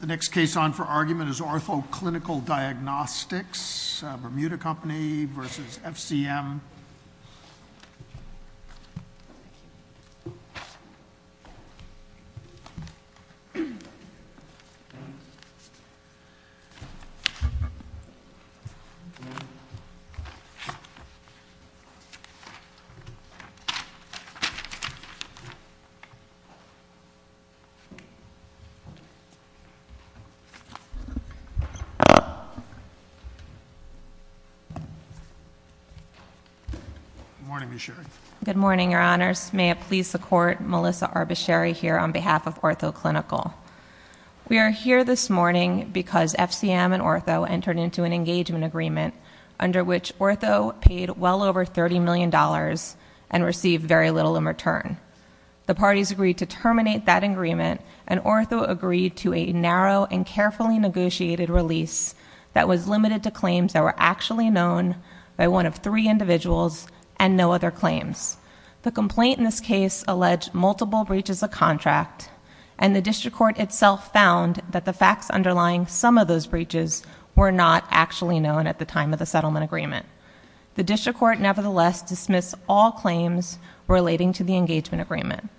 The next case on for argument is Ortho-Clinical Diagnostics, Bermuda Company versus FCM. Good morning, your honors. May it please the court, Melissa Arbacheri here on behalf of Ortho-Clinical. We are here this morning because FCM and Ortho entered into an engagement agreement under which Ortho paid well over $30 million and received very little in return. The parties agreed to terminate that agreement and Ortho agreed to a narrow and carefully negotiated release that was limited to claims that were actually known by one of three individuals and no other claims. The complaint in this case alleged multiple breaches of contract and the district court itself found that the facts underlying some of those breaches were not actually known at the time of the settlement agreement. The district court nevertheless dismissed all claims relating to the engagement agreement.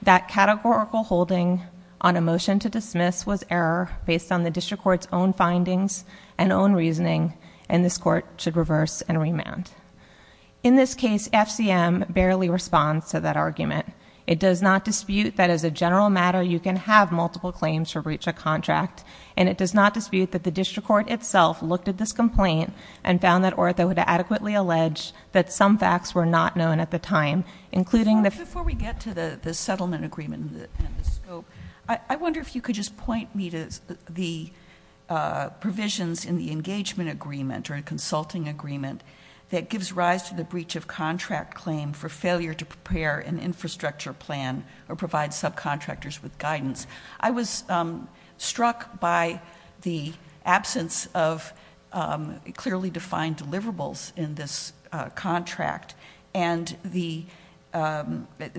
That categorical holding on a motion to dismiss was error based on the district court's own findings and own reasoning and this court should reverse and remand. In this case, FCM barely responds to that argument. It does not dispute that as a general matter you can have multiple claims for breach of contract. And it does not dispute that the district court itself looked at this complaint and found that Ortho had adequately alleged that some facts were not known at the time, including the- Before we get to the settlement agreement and the scope, I wonder if you could just point me to the provisions in the engagement agreement or consulting agreement that gives rise to the breach of contract claim for failure to prepare an infrastructure plan or provide subcontractors with guidance. I was struck by the absence of clearly defined deliverables in this contract. And the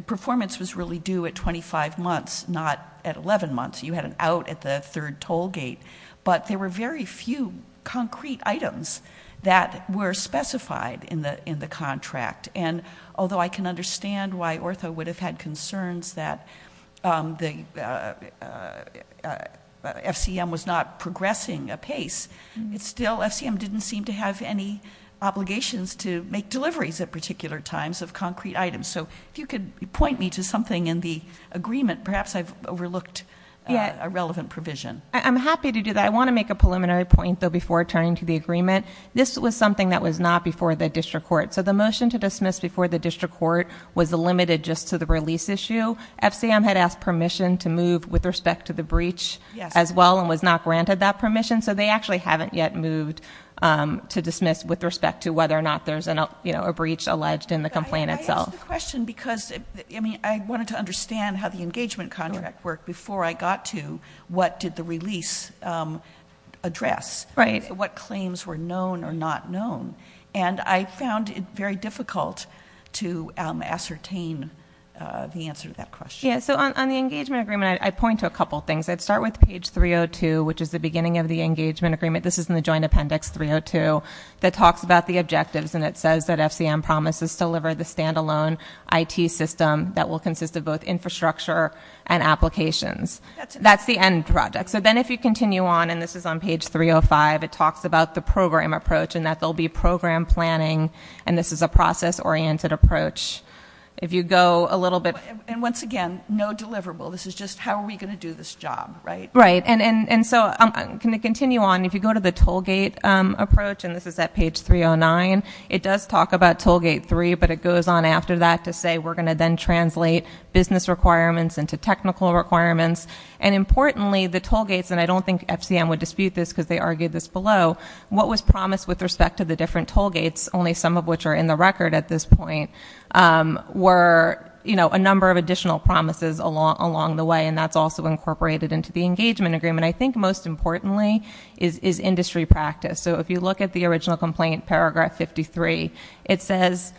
performance was really due at 25 months, not at 11 months. You had an out at the third toll gate. But there were very few concrete items that were specified in the contract. And although I can understand why Ortho would have had concerns that FCM was not progressing apace, it's still, FCM didn't seem to have any obligations to make deliveries at particular times of concrete items. So if you could point me to something in the agreement, perhaps I've overlooked a relevant provision. I'm happy to do that. I want to make a preliminary point, though, before turning to the agreement. This was something that was not before the district court. So the motion to dismiss before the district court was limited just to the release issue. FCM had asked permission to move with respect to the breach as well and was not granted that permission. So they actually haven't yet moved to dismiss with respect to whether or not there's a breach alleged in the complaint itself. I ask the question because I wanted to understand how the engagement contract worked before I got to what did the release address. Right. What claims were known or not known. And I found it very difficult to ascertain the answer to that question. Yeah, so on the engagement agreement, I point to a couple things. I'd start with page 302, which is the beginning of the engagement agreement. This is in the joint appendix 302 that talks about the objectives and it says that FCM promises to deliver the standalone IT system that will consist of both infrastructure and applications. That's the end project. And so then if you continue on, and this is on page 305, it talks about the program approach and that there'll be program planning, and this is a process-oriented approach. If you go a little bit- And once again, no deliverable. This is just how are we going to do this job, right? Right, and so I'm going to continue on. If you go to the toll gate approach, and this is at page 309, it does talk about toll gate three, but it goes on after that to say we're going to then translate business requirements into technical requirements. And importantly, the toll gates, and I don't think FCM would dispute this because they argued this below, what was promised with respect to the different toll gates, only some of which are in the record at this point, were a number of additional promises along the way, and that's also incorporated into the engagement agreement. I think most importantly is industry practice. So if you look at the original complaint, paragraph 53, it says,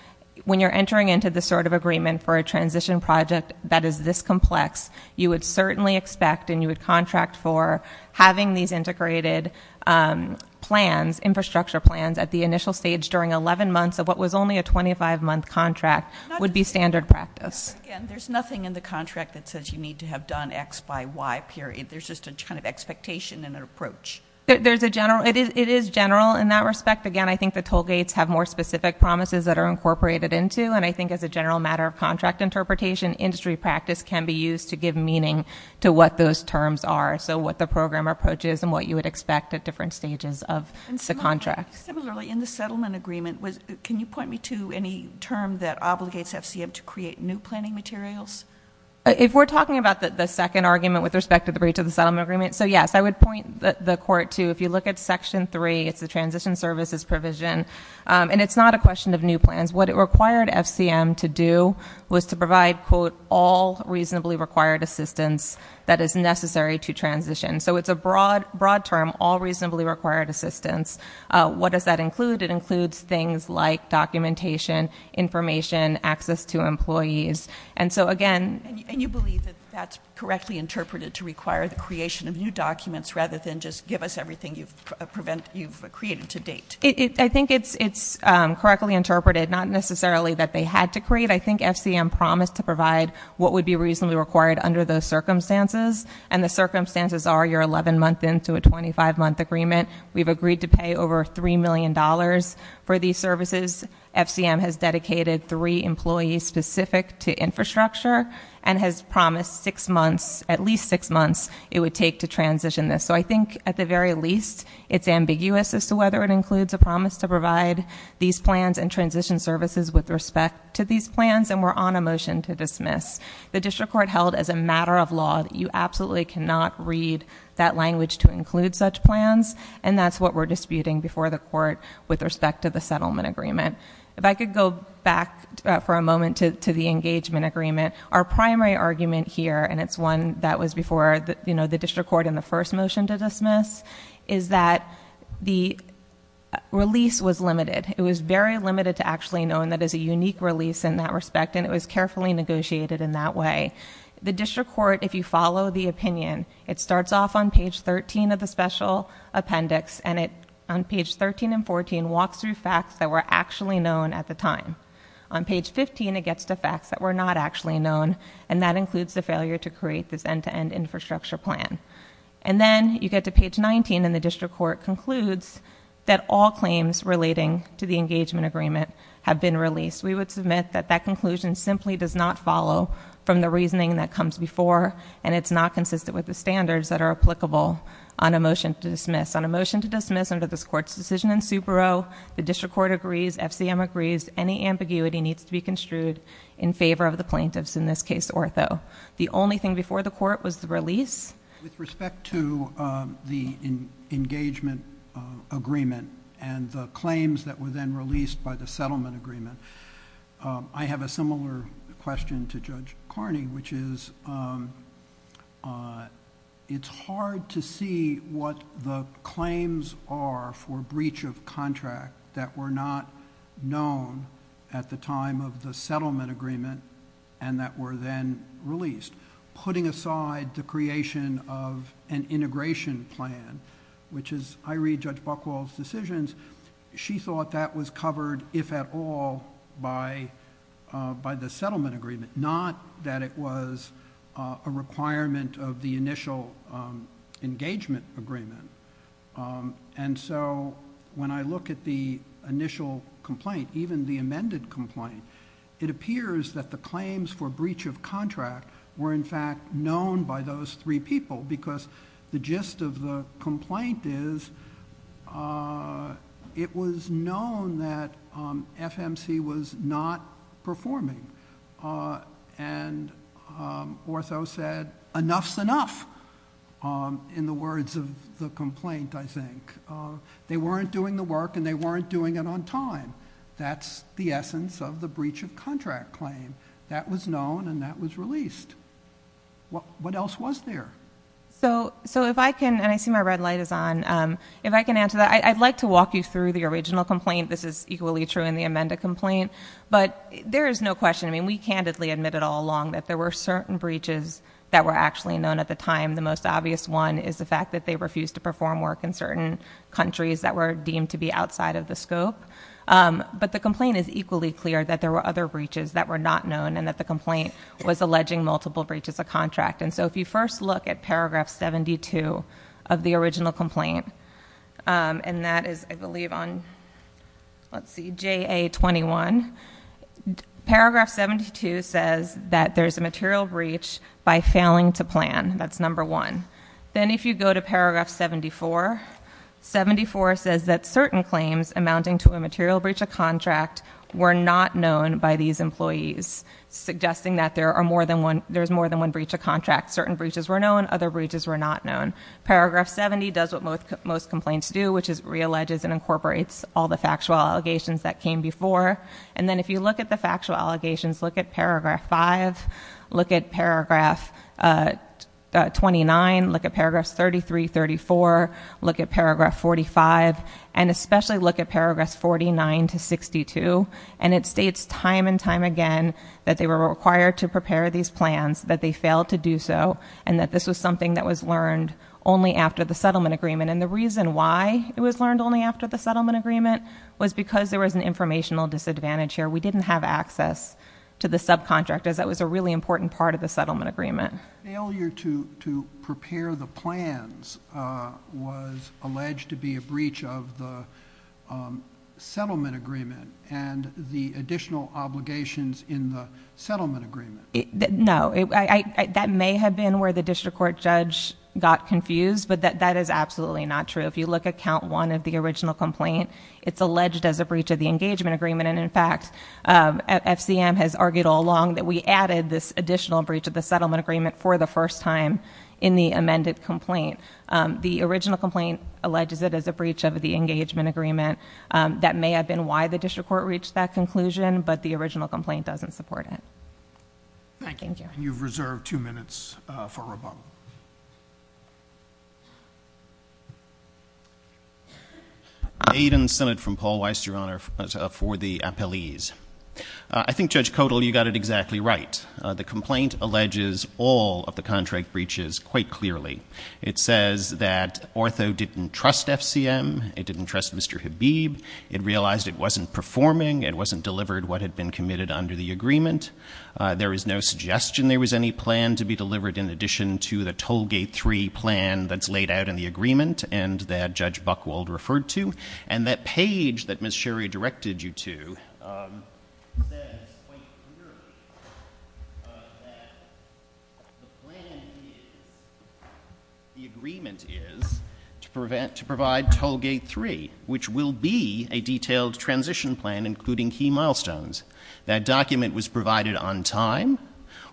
when you're entering into this sort of agreement for a transition project that is this complex, you would certainly expect and you would contract for having these integrated plans, infrastructure plans at the initial stage during 11 months of what was only a 25 month contract would be standard practice. Again, there's nothing in the contract that says you need to have done x by y period. There's just a kind of expectation and an approach. There's a general, it is general in that respect. Again, I think the toll gates have more specific promises that are incorporated into, and again, I think as a general matter of contract interpretation, industry practice can be used to give meaning to what those terms are. So what the program approaches and what you would expect at different stages of the contract. Similarly, in the settlement agreement, can you point me to any term that obligates FCM to create new planning materials? If we're talking about the second argument with respect to the breach of the settlement agreement, so yes, I would point the court to, if you look at section three, it's the transition services provision, and it's not a question of new plans. What it required FCM to do was to provide, quote, all reasonably required assistance that is necessary to transition. So it's a broad term, all reasonably required assistance. What does that include? It includes things like documentation, information, access to employees. And so again- And you believe that that's correctly interpreted to require the creation of new documents rather than just give us everything you've created to date? I think it's correctly interpreted, not necessarily that they had to create. I think FCM promised to provide what would be reasonably required under those circumstances. And the circumstances are you're 11 month into a 25 month agreement. We've agreed to pay over $3 million for these services. FCM has dedicated three employees specific to infrastructure and has promised at least six months it would take to transition this. So I think at the very least, it's ambiguous as to whether it includes a promise to provide these plans and transition services with respect to these plans, and we're on a motion to dismiss. The district court held as a matter of law that you absolutely cannot read that language to include such plans. And that's what we're disputing before the court with respect to the settlement agreement. If I could go back for a moment to the engagement agreement. Our primary argument here, and it's one that was before the district court in the first motion to dismiss, is that the release was limited. It was very limited to actually knowing that it's a unique release in that respect, and it was carefully negotiated in that way. The district court, if you follow the opinion, it starts off on page 13 of the special appendix, and it on page 13 and 14 walks through facts that were actually known at the time. On page 15, it gets to facts that were not actually known, and that includes the failure to create this end-to-end infrastructure plan. And then you get to page 19, and the district court concludes that all claims relating to the engagement agreement have been released. We would submit that that conclusion simply does not follow from the reasoning that comes before, and it's not consistent with the standards that are applicable on a motion to dismiss. On a motion to dismiss under this court's decision in Subaru, the district court agrees, FCM agrees, any ambiguity needs to be construed in favor of the plaintiffs, in this case, Ortho. The only thing before the court was the release. With respect to the engagement agreement and the claims that were then released by the settlement agreement, I have a similar question to Judge Carney, which is it's hard to see what the claims are for known at the time of the settlement agreement and that were then released. Putting aside the creation of an integration plan, which is, I read Judge Buchwald's decisions. She thought that was covered, if at all, by the settlement agreement, not that it was a requirement of the initial engagement agreement. And so when I look at the initial complaint, even the amended complaint, it appears that the claims for breach of contract were in fact known by those three people. Because the gist of the complaint is it was known that FMC was not performing. And Ortho said, enough's enough, in the words of the complaint, I think. They weren't doing the work and they weren't doing it on time. That's the essence of the breach of contract claim. That was known and that was released. What else was there? So if I can, and I see my red light is on. If I can answer that, I'd like to walk you through the original complaint, this is equally true in the amended complaint. But there is no question, I mean, we candidly admit it all along that there were certain breaches that were actually known at the time. The most obvious one is the fact that they refused to perform work in certain countries that were deemed to be outside of the scope. But the complaint is equally clear that there were other breaches that were not known and that the complaint was alleging multiple breaches of contract. And so if you first look at paragraph 72 of the original complaint, and that is, I believe on, let's see, JA 21. Paragraph 72 says that there's a material breach by failing to plan, that's number one. Then if you go to paragraph 74, 74 says that certain claims amounting to a material breach of contract were not known by these employees, suggesting that there's more than one breach of contract, certain breaches were known, other breaches were not known. Paragraph 70 does what most complaints do, which is re-alleges and incorporates all the factual allegations that came before. And then if you look at the factual allegations, look at paragraph five, look at paragraph 29, look at paragraphs 33, 34, look at paragraph 45, and especially look at paragraphs 49 to 62. And it states time and time again that they were required to prepare these plans, that they failed to do so, and that this was something that was learned only after the settlement agreement. And the reason why it was learned only after the settlement agreement was because there was an informational disadvantage here. We didn't have access to the subcontractors. That was a really important part of the settlement agreement. Failure to prepare the plans was alleged to be a breach of the settlement agreement and the additional obligations in the settlement agreement. No, that may have been where the district court judge got confused, but that is absolutely not true. If you look at count one of the original complaint, it's alleged as a breach of the engagement agreement. And in fact, FCM has argued all along that we added this additional breach of the settlement agreement for the first time in the amended complaint. The original complaint alleges it as a breach of the engagement agreement. That may have been why the district court reached that conclusion, but the original complaint doesn't support it. Thank you. And you've reserved two minutes for rebuttal. Aiden Sennett from Paul Weiss, Your Honor, for the appellees. I think Judge Codall, you got it exactly right. The complaint alleges all of the contract breaches quite clearly. It says that Ortho didn't trust FCM, it didn't trust Mr. Habib. It realized it wasn't performing, it wasn't delivered what had been committed under the agreement. There is no suggestion there was any plan to be delivered in addition to the toll gate three plan that's laid out in the agreement and that Judge Buchwald referred to. And that page that Ms. Sherry directed you to says quite clearly that the plan is, the agreement is to provide toll gate three. Which will be a detailed transition plan including key milestones. That document was provided on time.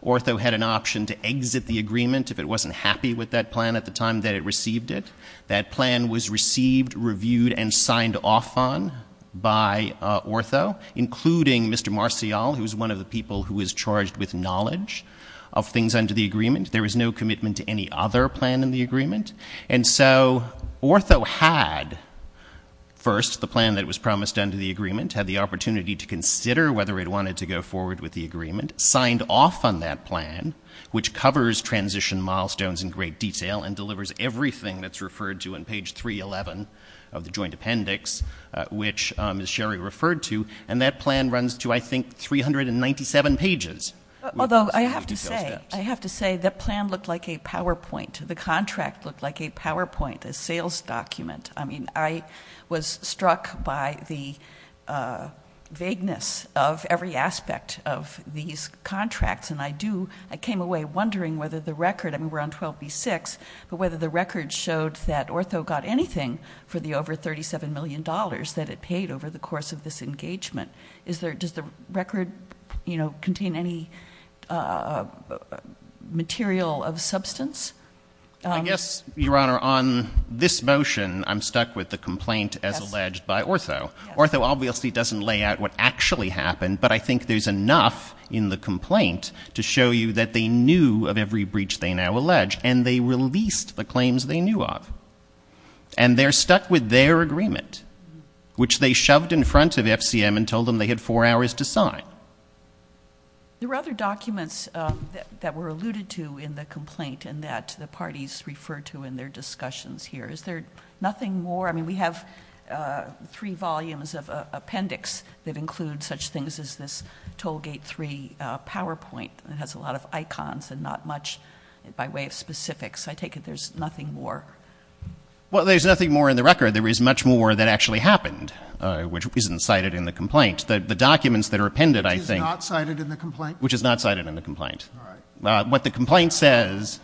Ortho had an option to exit the agreement if it wasn't happy with that plan at the time that it received it. That plan was received, reviewed, and signed off on by Ortho, including Mr. Marcial, who's one of the people who is charged with knowledge of things under the agreement. There was no commitment to any other plan in the agreement. And so, Ortho had first the plan that was promised under the agreement, had the opportunity to consider whether it wanted to go forward with the agreement, signed off on that plan, which covers transition milestones in great detail and delivers everything that's referred to on page 311 of the joint appendix. Which Ms. Sherry referred to, and that plan runs to, I think, 397 pages. Although, I have to say, I have to say, the plan looked like a PowerPoint. The contract looked like a PowerPoint, a sales document. I mean, I was struck by the vagueness of every aspect of these contracts. And I came away wondering whether the record, I mean, we're on 12B6, but whether the record showed that Ortho got anything for the over $37 million that it paid over the course of this engagement. Does the record contain any material of substance? I guess, Your Honor, on this motion, I'm stuck with the complaint as alleged by Ortho. Ortho obviously doesn't lay out what actually happened, but I think there's enough in the complaint to show you that they knew of every breach they now allege, and they released the claims they knew of. And they're stuck with their agreement, which they shoved in front of FCM and told them they had four hours to sign. There were other documents that were alluded to in the complaint, and that the parties referred to in their discussions here. Is there nothing more? I mean, we have three volumes of appendix that include such things as this Tollgate 3 PowerPoint that has a lot of icons and not much by way of specifics. I take it there's nothing more? Well, there's nothing more in the record. There is much more that actually happened, which isn't cited in the complaint. The documents that are appended, I think- Which is not cited in the complaint? Which is not cited in the complaint. All right. What the complaint says,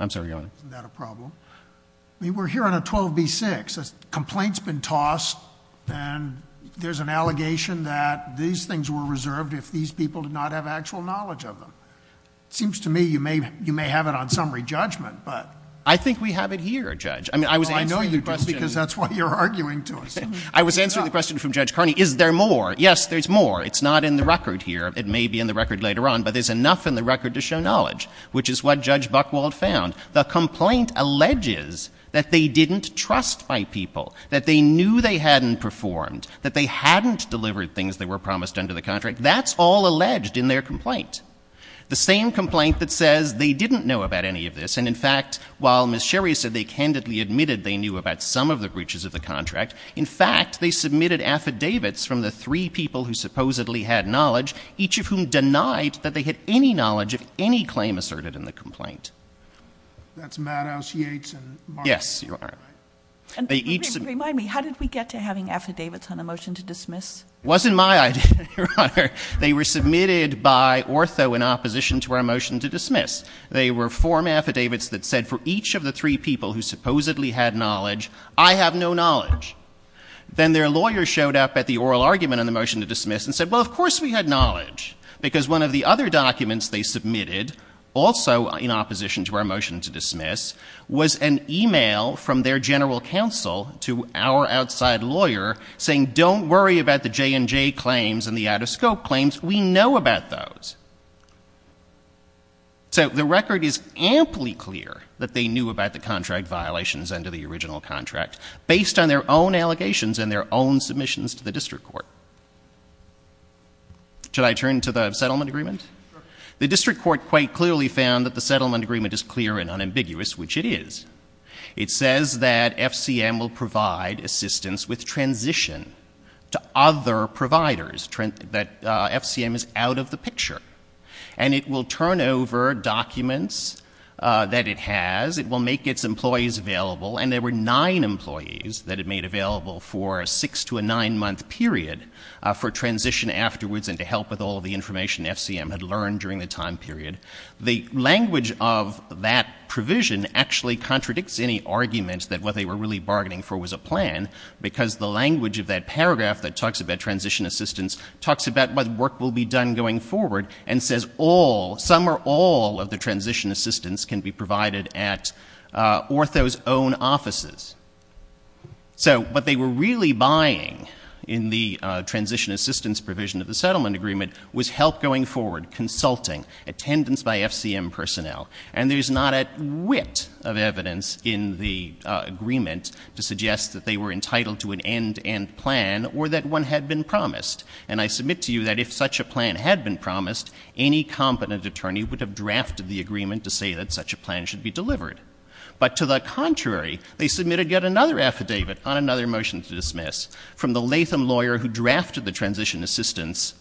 I'm sorry, Your Honor. Isn't that a problem? I mean, we're here on a 12B6. Complaint's been tossed, and there's an allegation that these things were reserved if these people did not have actual knowledge of them. It seems to me you may have it on summary judgment, but- I think we have it here, Judge. I mean, I was answering the question- No, I know you do, because that's why you're arguing to us. I was answering the question from Judge Carney, is there more? Yes, there's more. It's not in the record here. It may be in the record later on, but there's enough in the record to show knowledge, which is what Judge Buchwald found. The complaint alleges that they didn't trust my people, that they knew they hadn't performed, that they hadn't delivered things that were promised under the contract. That's all alleged in their complaint. The same complaint that says they didn't know about any of this, and in fact, while Ms. Sherry said they candidly admitted they knew about some of the breaches of the contract, in fact, they submitted affidavits from the three people who supposedly had knowledge, each of whom denied that they had any knowledge of any claim asserted in the complaint. That's Maddow, Yates, and- Yes, Your Honor. They each- Remind me, how did we get to having affidavits on a motion to dismiss? Wasn't my idea, Your Honor. They were submitted by Ortho in opposition to our motion to dismiss. They were form affidavits that said for each of the three people who supposedly had knowledge, I have no knowledge. Then their lawyer showed up at the oral argument on the motion to dismiss and said, well, of course we had knowledge. Because one of the other documents they submitted, also in opposition to our motion to dismiss, was an email from their general counsel to our outside lawyer saying, don't worry about the J&J claims and the out of scope claims, we know about those. So the record is amply clear that they knew about the contract violations under the original contract, based on their own allegations and their own submissions to the district court. Should I turn to the settlement agreement? Sure. The district court quite clearly found that the settlement agreement is clear and unambiguous, which it is. It says that FCM will provide assistance with transition to other providers, that FCM is out of the picture. And it will turn over documents that it has, it will make its employees available. And there were nine employees that it made available for a six to a nine month period for transition afterwards and to help with all of the information FCM had learned during the time period. The language of that provision actually contradicts any argument that what they were really bargaining for was a plan, because the language of that paragraph that talks about transition assistance, talks about what work will be done going forward, and says all, some or all of the transition assistance can be provided at Ortho's own offices. So what they were really buying in the transition assistance provision of the settlement agreement was help going forward, consulting, attendance by FCM personnel. And there's not a whit of evidence in the agreement to suggest that they were entitled to an end to end plan or that one had been promised. And I submit to you that if such a plan had been promised, any competent attorney would have drafted the agreement to say that such a plan should be delivered. But to the contrary, they submitted yet another affidavit on another motion to dismiss, from the Latham lawyer who drafted the transition assistance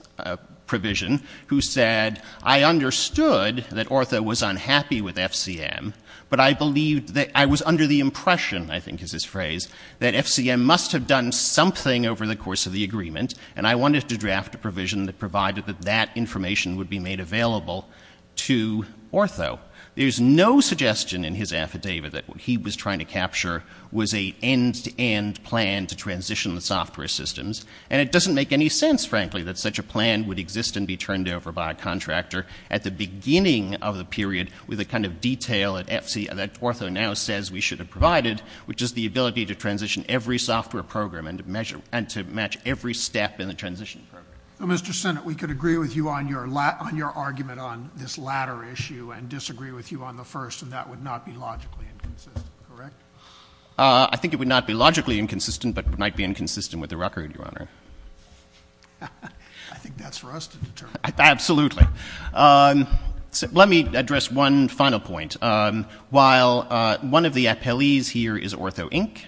provision, who said, I understood that Ortho was unhappy with FCM, but I was under the impression, I think is his phrase, that FCM must have done something over the course of the agreement. And I wanted to draft a provision that provided that that information would be made available to Ortho. There's no suggestion in his affidavit that what he was trying to capture was a end to end plan to transition the software systems. And it doesn't make any sense, frankly, that such a plan would exist and be turned over by a contractor at the beginning of the period, with the kind of detail that Ortho now says we should have provided, which is the ability to transition every software program and to match every step in the transition program. Mr. Senate, we could agree with you on your argument on this latter issue and disagree with you on the first, and that would not be logically inconsistent, correct? I think it would not be logically inconsistent, but it might be inconsistent with the record, Your Honor. I think that's for us to determine. Absolutely. Let me address one final point. While one of the appellees here is Ortho Inc.,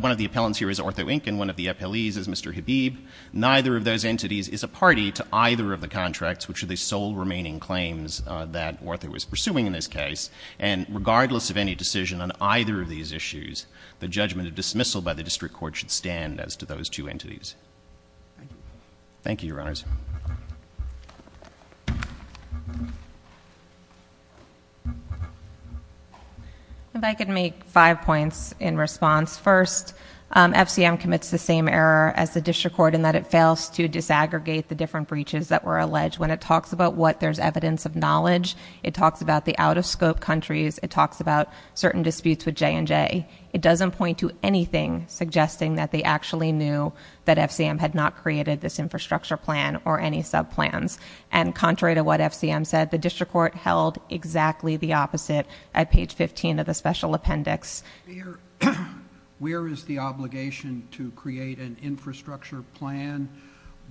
one of the appellants here is Ortho Inc., and one of the appellees is Mr. Habib. Neither of those entities is a party to either of the contracts, which are the sole remaining claims that Ortho is pursuing in this case. And regardless of any decision on either of these issues, the judgment of dismissal by the district court should stand as to those two entities. Thank you, Your Honors. If I could make five points in response. First, FCM commits the same error as the district court in that it fails to disaggregate the different breaches that were alleged. When it talks about what there's evidence of knowledge, it talks about the out of scope countries, it talks about certain disputes with J&J. It doesn't point to anything suggesting that they actually knew that FCM had not created this infrastructure plan or any sub plans. And contrary to what FCM said, the district court held exactly the opposite at page 15 of the special appendix. Where is the obligation to create an infrastructure plan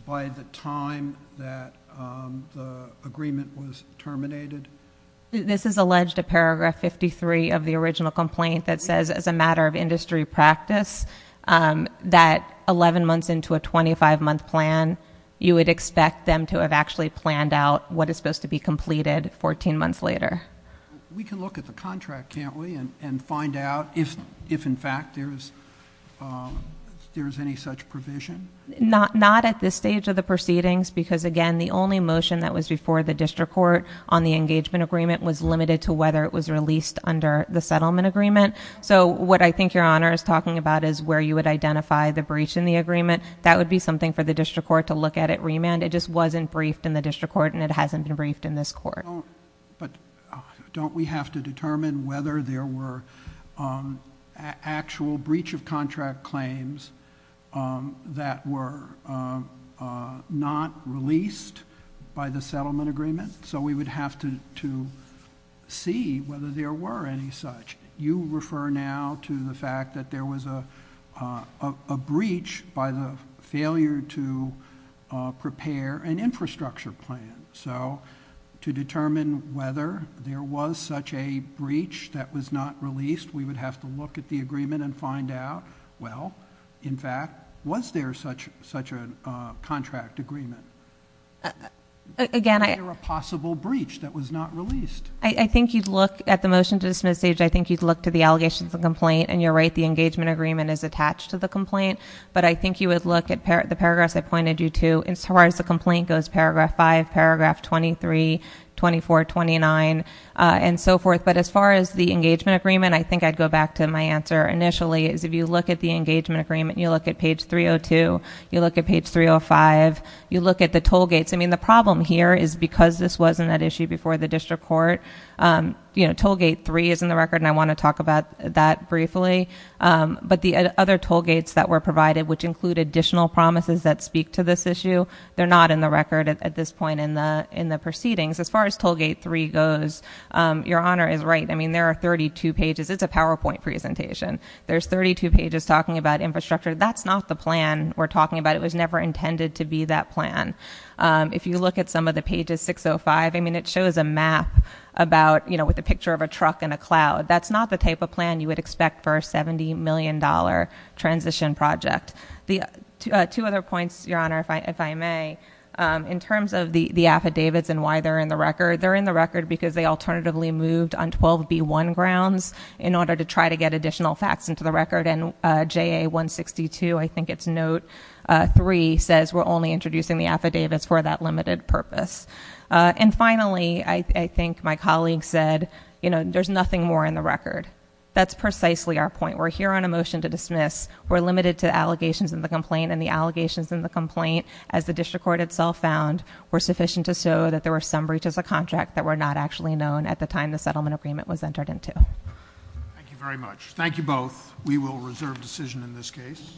by the time that the agreement was terminated? This is alleged to paragraph 53 of the original complaint that says as a matter of industry practice, that 11 months into a 25 month plan, you would expect them to have actually planned out what is supposed to be completed 14 months later. We can look at the contract, can't we, and find out if in fact there is any such provision? Not at this stage of the proceedings, because again, the only motion that was before the district court on the engagement agreement was limited to whether it was released under the settlement agreement. So what I think your honor is talking about is where you would identify the breach in the agreement. That would be something for the district court to look at at remand. It just wasn't briefed in the district court and it hasn't been briefed in this court. But don't we have to determine whether there were actual breach of contract claims that were not released by the settlement agreement? So we would have to see whether there were any such. You refer now to the fact that there was a breach by the failure to prepare an infrastructure plan. So to determine whether there was such a breach that was not released, we would have to look at the agreement and find out, well, in fact, was there such a contract agreement? Again, I- There were possible breach that was not released. I think you'd look at the motion to dismiss stage. I think you'd look to the allegations of complaint, and you're right, the engagement agreement is attached to the complaint. But I think you would look at the paragraphs I pointed you to, as far as the complaint goes, paragraph five, paragraph 23, 24, 29, and so forth. But as far as the engagement agreement, I think I'd go back to my answer initially, is if you look at the engagement agreement, you look at page 302, you look at page 305, you look at the toll gates. I mean, the problem here is because this wasn't an issue before the district court, toll gate three is in the record, and I want to talk about that briefly. But the other toll gates that were provided, which include additional promises that speak to this issue, they're not in the record at this point in the proceedings. As far as toll gate three goes, your honor is right. I mean, there are 32 pages. It's a PowerPoint presentation. There's 32 pages talking about infrastructure. That's not the plan we're talking about. It was never intended to be that plan. If you look at some of the pages 605, I mean, it shows a map about, with a picture of a truck in a cloud. That's not the type of plan you would expect for a $70 million transition project. The two other points, your honor, if I may, in terms of the affidavits and why they're in the record. They're in the record because they alternatively moved on 12B1 grounds in order to try to get additional facts into the record. And JA 162, I think it's note three, says we're only introducing the affidavits for that limited purpose. And finally, I think my colleague said, there's nothing more in the record. That's precisely our point. We're here on a motion to dismiss. We're limited to allegations in the complaint. And the allegations in the complaint, as the district court itself found, were sufficient to show that there were some breaches of contract that were not actually known at the time the settlement agreement was entered into. Thank you very much. Thank you both. We will reserve decision in this case.